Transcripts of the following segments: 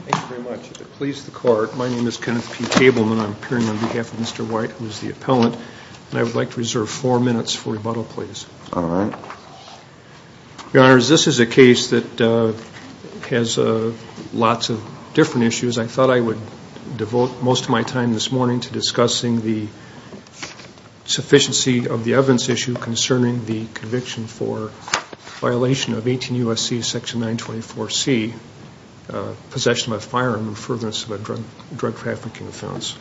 Thank you very much. If it pleases the court, my name is Kenneth P. Tableman. I'm appearing on behalf of Mr. White, who is the appellant, and I would like to reserve four minutes for lots of different issues. I thought I would devote most of my time this morning to discussing the sufficiency of the evidence issue concerning the conviction for violation of 18 U.S.C. Section 924C, possession of a firearm in frivolous drug trafficking offense.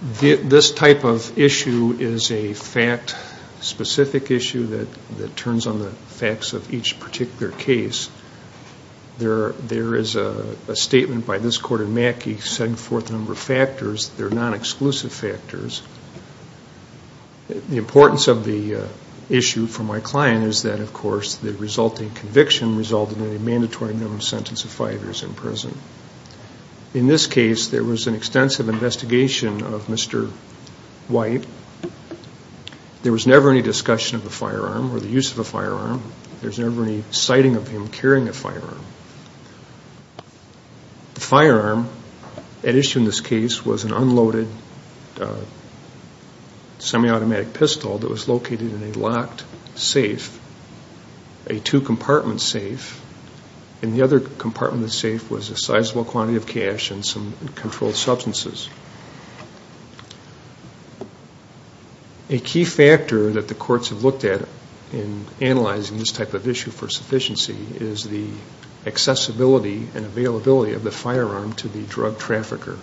This type of issue is a fact-specific issue that turns on the facts of each particular case. There is a statement by this court in Mackey setting forth a number of factors that are non-exclusive factors. The importance of the issue for my client is that, of course, the resulting conviction resulted in a mandatory minimum sentence of five years in prison. In this case, there was never any discussion of a firearm or the use of a firearm. There's never any sighting of him carrying a firearm. The firearm at issue in this case was an unloaded semi-automatic pistol that was located in a locked safe, a two-compartment safe, and the other compartment in the safe was a sizable quantity of cash and some controlled substances. A key factor that the courts have looked at in analyzing this type of issue for sufficiency is the accessibility and availability of the firearm to the drug trafficker.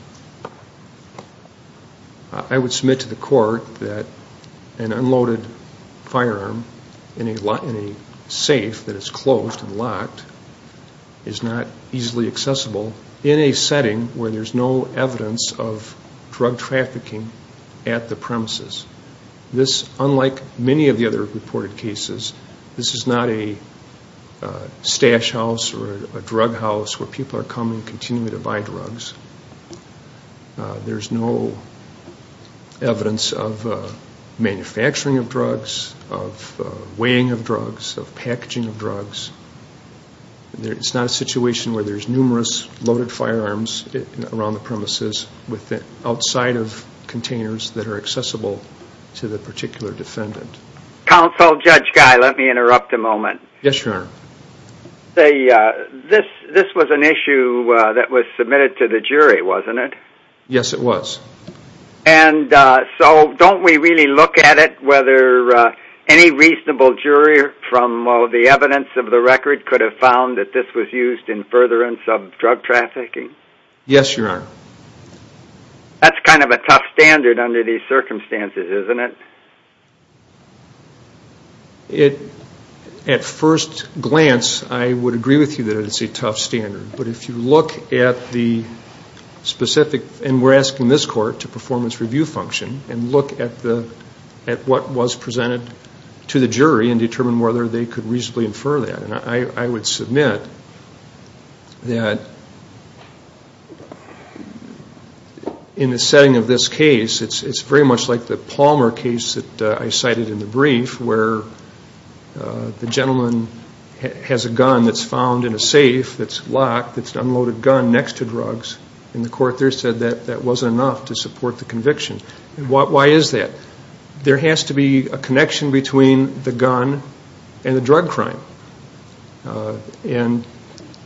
I would submit to accessible in a setting where there's no evidence of drug trafficking at the premises. This, unlike many of the other reported cases, this is not a stash house or a drug house where people are coming continually to buy drugs. There's no evidence of manufacturing of drugs, of weighing of drugs, of packaging of drugs. It's not a situation where there's numerous loaded firearms around the premises outside of containers that are accessible to the particular defendant. Counsel, Judge Guy, let me interrupt a moment. Yes, Your Honor. This was an issue that was submitted to the jury, wasn't it? Yes, it was. And so don't we really look at it whether any reasonable jury from the evidence of the record could have found that this was used in furtherance of drug trafficking? Yes, Your Honor. That's kind of a tough standard under these circumstances, isn't it? At first glance, I would agree with you that it's a tough standard. But if you look at the specific, and we're asking this court to performance review function, and look at what was presented to the jury and determine whether they could reasonably infer that. And I would submit that in the setting of this case, it's very much like the Palmer case that I cited in the brief where the gentleman has a gun that's found in a safe that's locked, that's attached to drugs, and the court there said that that wasn't enough to support the conviction. Why is that? There has to be a connection between the gun and the drug crime. And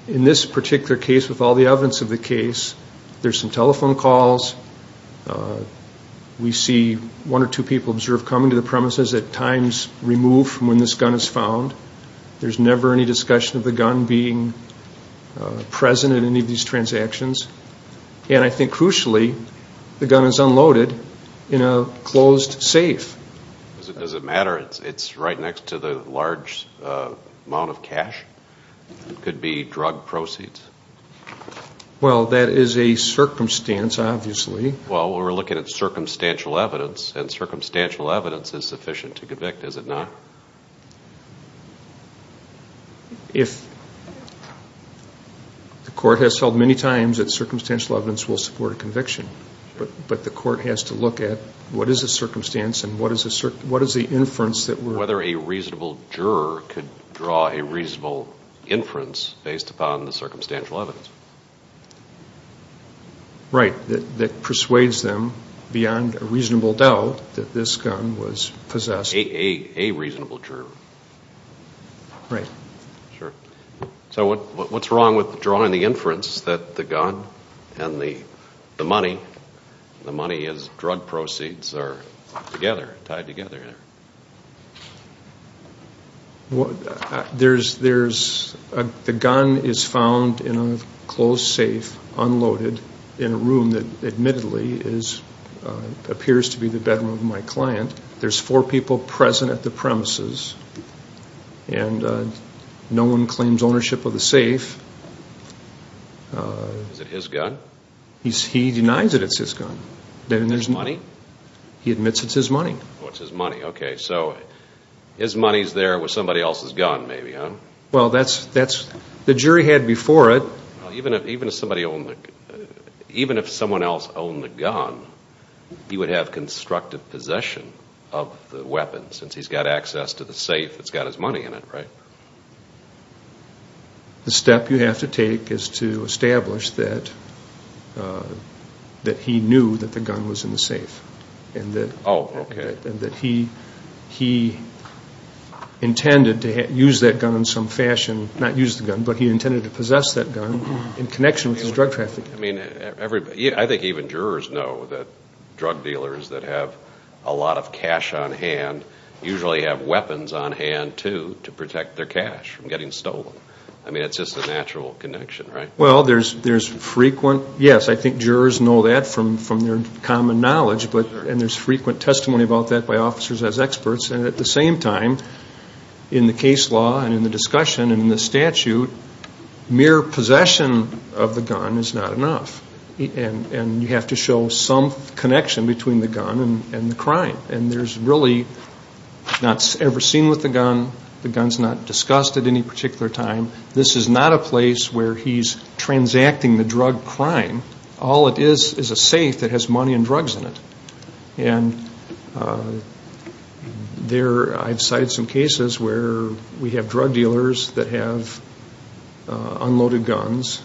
in this particular case, with all the evidence of the case, there's some telephone calls. We see one or two people observed coming to the premises at times removed from when this gun is And I think crucially, the gun is unloaded in a closed safe. Does it matter? It's right next to the large amount of cash? It could be drug proceeds. Well, that is a circumstance, obviously. Well, we're looking at circumstantial evidence, and circumstantial evidence is sufficient to convict, is it not? If the court has held many times that circumstantial evidence will support a conviction, but the court has to look at what is the circumstance and what is the inference that we're Whether a reasonable juror could draw a reasonable inference based upon the circumstantial evidence. Right. That persuades them beyond a reasonable doubt that this gun was possessed. A reasonable juror. Right. Sure. So what's wrong with drawing the inference that the gun and the money, the money is drug proceeds, are together, tied together? There's, the gun is found in a closed safe, unloaded, in a room that admittedly appears to be the bedroom of my client. There's four people present at the premises, and no one claims ownership of the safe. Is it his gun? He denies that it's his gun. There's money? He admits it's his money. Oh, it's his money. Okay, so his money's there with somebody else's gun, maybe, huh? Well, that's, the jury had before it. Even if somebody owned the, even if someone else owned the gun, he would have constructive possession of the weapon, since he's got access to the safe that's got his money in it, right? The step you have to take is to establish that he knew that the gun was in the safe. Oh, okay. And that he intended to use that gun in some fashion, not use the gun, but he intended to possess that gun in connection with his drug trafficking. I mean, I think even jurors know that drug dealers that have a lot of cash on hand usually have weapons on hand, too, to protect their cash from getting stolen. I mean, it's just a natural connection, right? Well, there's frequent, yes, I think jurors know that from their common knowledge, and there's frequent testimony about that by officers as experts. And at the same time, in the case law and in the discussion and in the statute, mere possession of the gun is not enough. And you have to show some connection between the gun and the crime. And there's really not ever seen with the gun, the gun's not discussed at any particular time. This is not a place where he's transacting the drug crime. All it is is a safe that has money and drugs in it. And I've cited some cases where we have drug dealers that have unloaded guns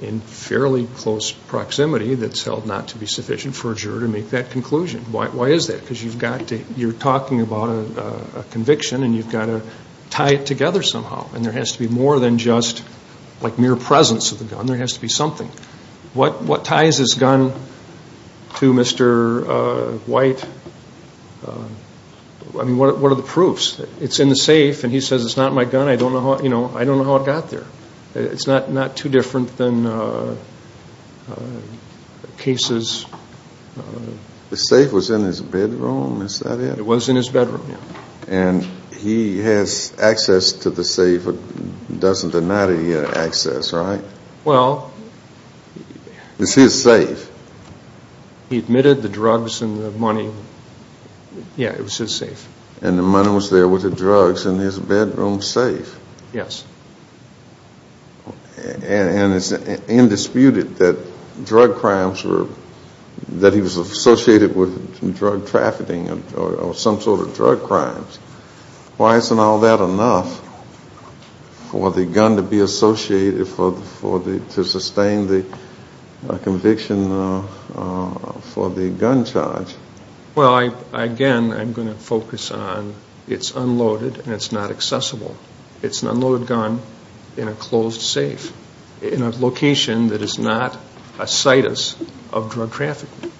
in fairly close proximity that's held not to be sufficient for a juror to make that conclusion. Why is that? Because you're talking about a conviction, and you've got to tie it together somehow. And there has to be more than just like mere presence of the gun. There has to be something. What ties this gun to Mr. White? I mean, what are the proofs? It's in the safe, and he says it's not my gun. I don't know how it got there. It's not too different than cases. The safe was in his bedroom, is that it? It was in his bedroom, yes. And he has access to the safe. He doesn't deny that he had access, right? Well. It's his safe. He admitted the drugs and the money. Yeah, it was his safe. And the money was there with the drugs in his bedroom safe. Yes. And it's indisputed that drug crimes were, that he was associated with drug trafficking or some sort of drug crimes. Why isn't all that enough for the gun to be associated, to sustain the conviction for the gun charge? Well, again, I'm going to focus on it's unloaded and it's not accessible. It's an unloaded gun in a closed safe, in a location that is not a situs of drug trafficking.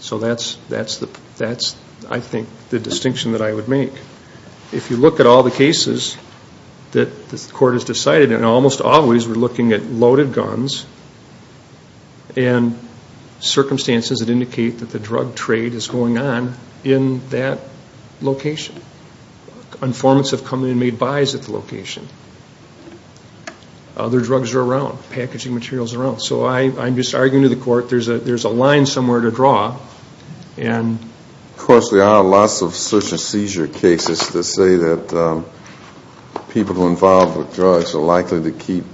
So that's, I think, the distinction that I would make. If you look at all the cases that the court has decided, and almost always we're looking at loaded guns and circumstances that indicate that the drug trade is going on in that location. Informants have come in and made buys at the location. Other drugs are around, packaging materials are around. So I'm just arguing to the court there's a line somewhere to draw. Of course, there are lots of search and seizure cases that say that people who are involved with drugs are likely to keep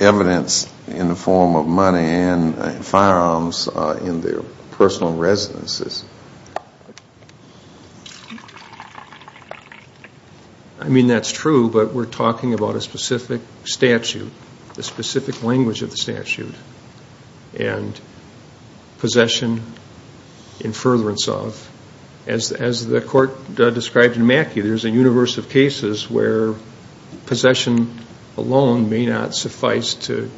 evidence in the form of money and firearms in their personal residences. I mean, that's true, but we're talking about a specific statute, the specific language of the statute, and possession in furtherance of. As the court described in Mackey, there's a universe of cases where possession alone may not suffice to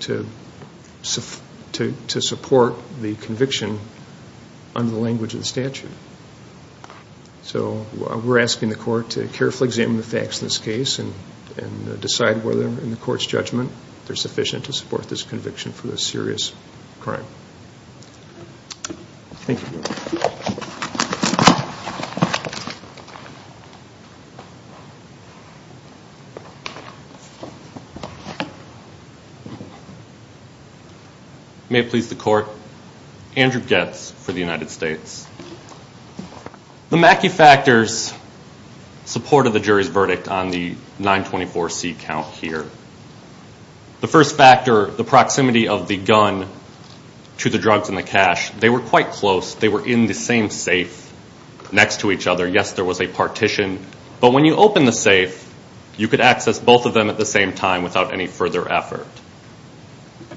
support the conviction under the language of the statute. So we're asking the court to carefully examine the facts in this case and decide whether in the court's judgment they're sufficient to support this conviction for this serious crime. Thank you. May it please the court. Andrew Goetz for the United States. The Mackey factors supported the jury's verdict on the 924C count here. The first factor, the proximity of the gun to the drugs and the cash, they were quite close. They were in the same safe next to each other. Yes, there was a partition, but when you opened the safe, you could access both of them at the same time without any further effort.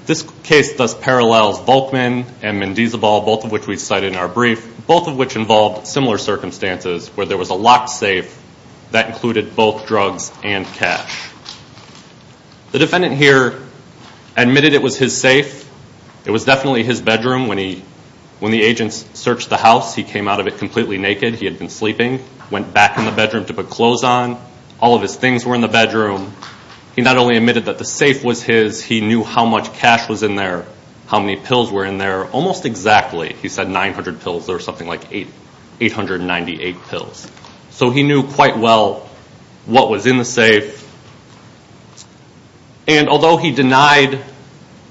This case thus parallels Volkmann and Mendezalbal, both of which we cited in our brief, both of which involved similar circumstances where there was a locked safe that included both drugs and cash. The defendant here admitted it was his safe. It was definitely his bedroom. When the agents searched the house, he came out of it completely naked. He had been sleeping, went back in the bedroom to put clothes on. All of his things were in the bedroom. He not only admitted that the safe was his, he knew how much cash was in there, how many pills were in there. Almost exactly, he said 900 pills or something like 898 pills. So he knew quite well what was in the safe. And although he denied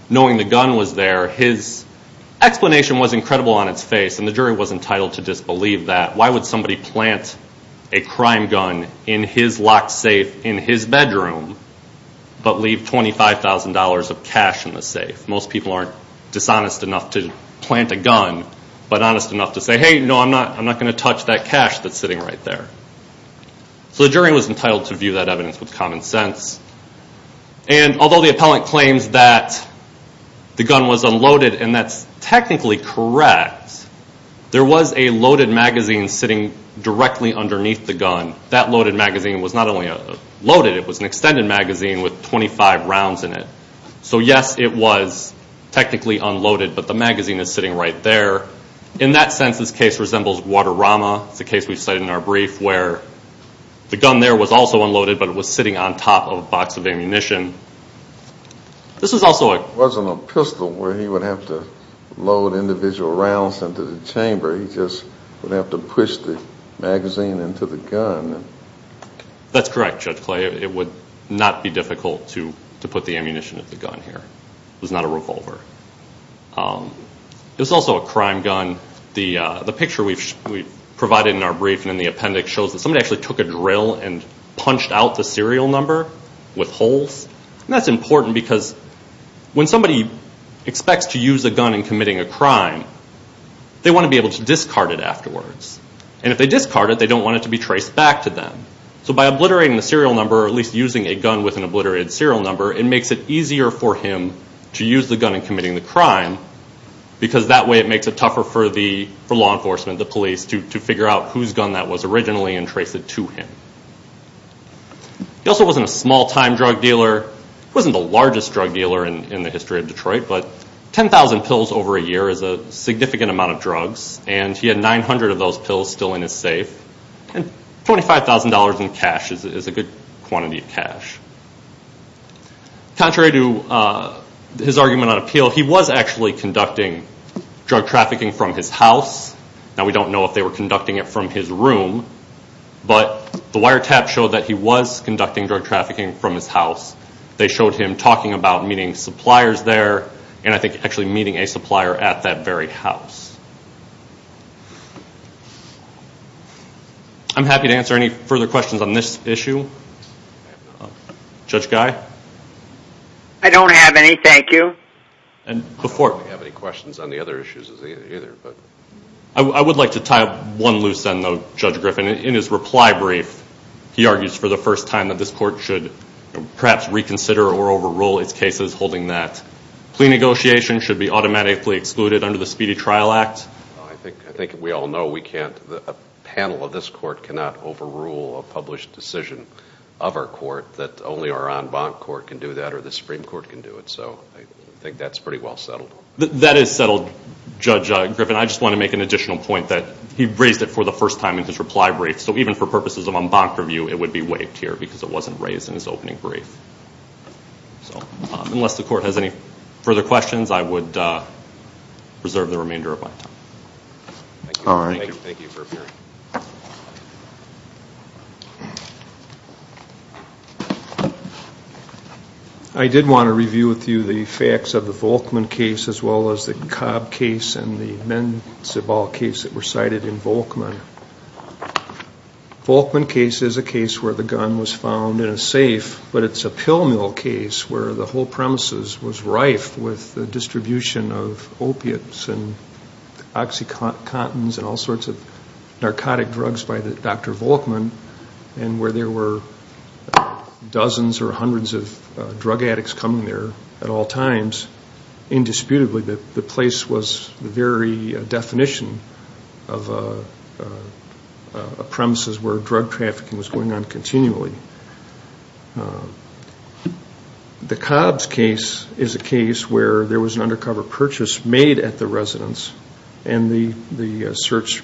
knowing the gun was there, his explanation was incredible on its face, and the jury was entitled to disbelieve that. Why would somebody plant a crime gun in his locked safe in his bedroom if most people aren't dishonest enough to plant a gun but honest enough to say, hey, no, I'm not going to touch that cash that's sitting right there. So the jury was entitled to view that evidence with common sense. And although the appellant claims that the gun was unloaded, and that's technically correct, there was a loaded magazine sitting directly underneath the gun. That loaded magazine was not only loaded, it was an extended magazine with 25 rounds in it. So yes, it was technically unloaded, but the magazine is sitting right there. In that sense, this case resembles Guadarrama. It's a case we've cited in our brief where the gun there was also unloaded, but it was sitting on top of a box of ammunition. This is also a- It wasn't a pistol where he would have to load individual rounds into the chamber. He just would have to push the magazine into the gun. That's correct, Judge Clay. It would not be difficult to put the ammunition into the gun here. It was not a revolver. It was also a crime gun. The picture we provided in our brief and in the appendix shows that somebody actually took a drill and punched out the serial number with holes. And that's important because when somebody expects to use a gun in committing a crime, they want to be able to discard it afterwards. And if they discard it, they don't want it to be traced back to them. So by obliterating the serial number, or at least using a gun with an obliterated serial number, it makes it easier for him to use the gun in committing the crime because that way it makes it tougher for law enforcement, the police, to figure out whose gun that was originally and trace it to him. He also wasn't a small-time drug dealer. He wasn't the largest drug dealer in the history of Detroit, but 10,000 pills over a year is a significant amount of drugs, and he had 900 of those pills still in his safe. $25,000 in cash is a good quantity of cash. Contrary to his argument on appeal, he was actually conducting drug trafficking from his house. Now we don't know if they were conducting it from his room, but the wiretaps show that he was conducting drug trafficking from his house. They showed him talking about meeting suppliers there and I think actually meeting a supplier at that very house. I'm happy to answer any further questions on this issue. Judge Guy? I don't have any, thank you. I don't have any questions on the other issues either. I would like to tie up one loose end, though, Judge Griffin. In his reply brief, he argues for the first time that this court should perhaps reconsider or overrule its cases holding that plea negotiations should be automatically excluded under the Speedy Trial Act. I think we all know we can't, a panel of this court cannot overrule a published decision of our court that only our en banc court can do that or the Supreme Court can do it, so I think that's pretty well settled. That is settled, Judge Griffin. I just want to make an additional point that he raised it for the first time in his reply brief, so even for purposes of en banc review, it would be waived here because it wasn't raised in his opening brief. So, unless the court has any further questions, I would reserve the remainder of my time. All right. Thank you for appearing. I did want to review with you the facts of the Volkman case as well as the Cobb case and the Menzibal case that were cited in Volkman. Volkman case is a case where the gun was found in a safe, but it's a pill mill case where the whole premises was rife with the distribution of opiates and Oxycontins and all sorts of narcotic drugs by Dr. Volkman and where there were dozens or hundreds of drug addicts coming there at all times. Indisputably, the place was the very definition of a premises where drug trafficking was going on continually. The Cobb's case is a case where there was an undercover purchase made at the residence and the search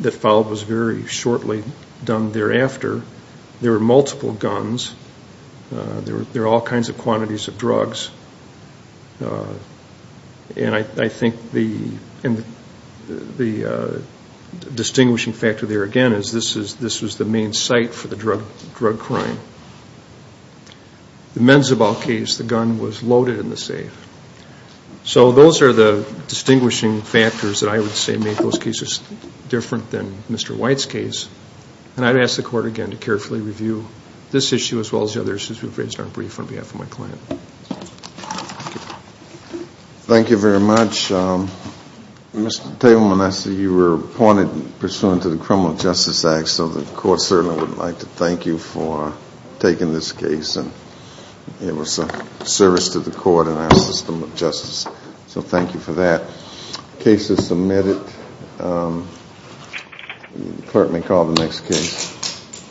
that followed was very shortly done thereafter. There were multiple guns. There were all kinds of quantities of drugs. And I think the distinguishing factor there again is this was the main site for the drug crime. The Menzibal case, the gun was loaded in the safe. So those are the distinguishing factors that I would say made those cases different than Mr. White's case. And I'd ask the Court again to carefully review this issue as well as the others since we've raised our brief on behalf of my client. Thank you very much. Mr. Tableman, I see you were appointed pursuant to the Criminal Justice Act, so the Court certainly would like to thank you for taking this case. It was a service to the Court and our system of justice, so thank you for that. The case is submitted. The Court may call the next case.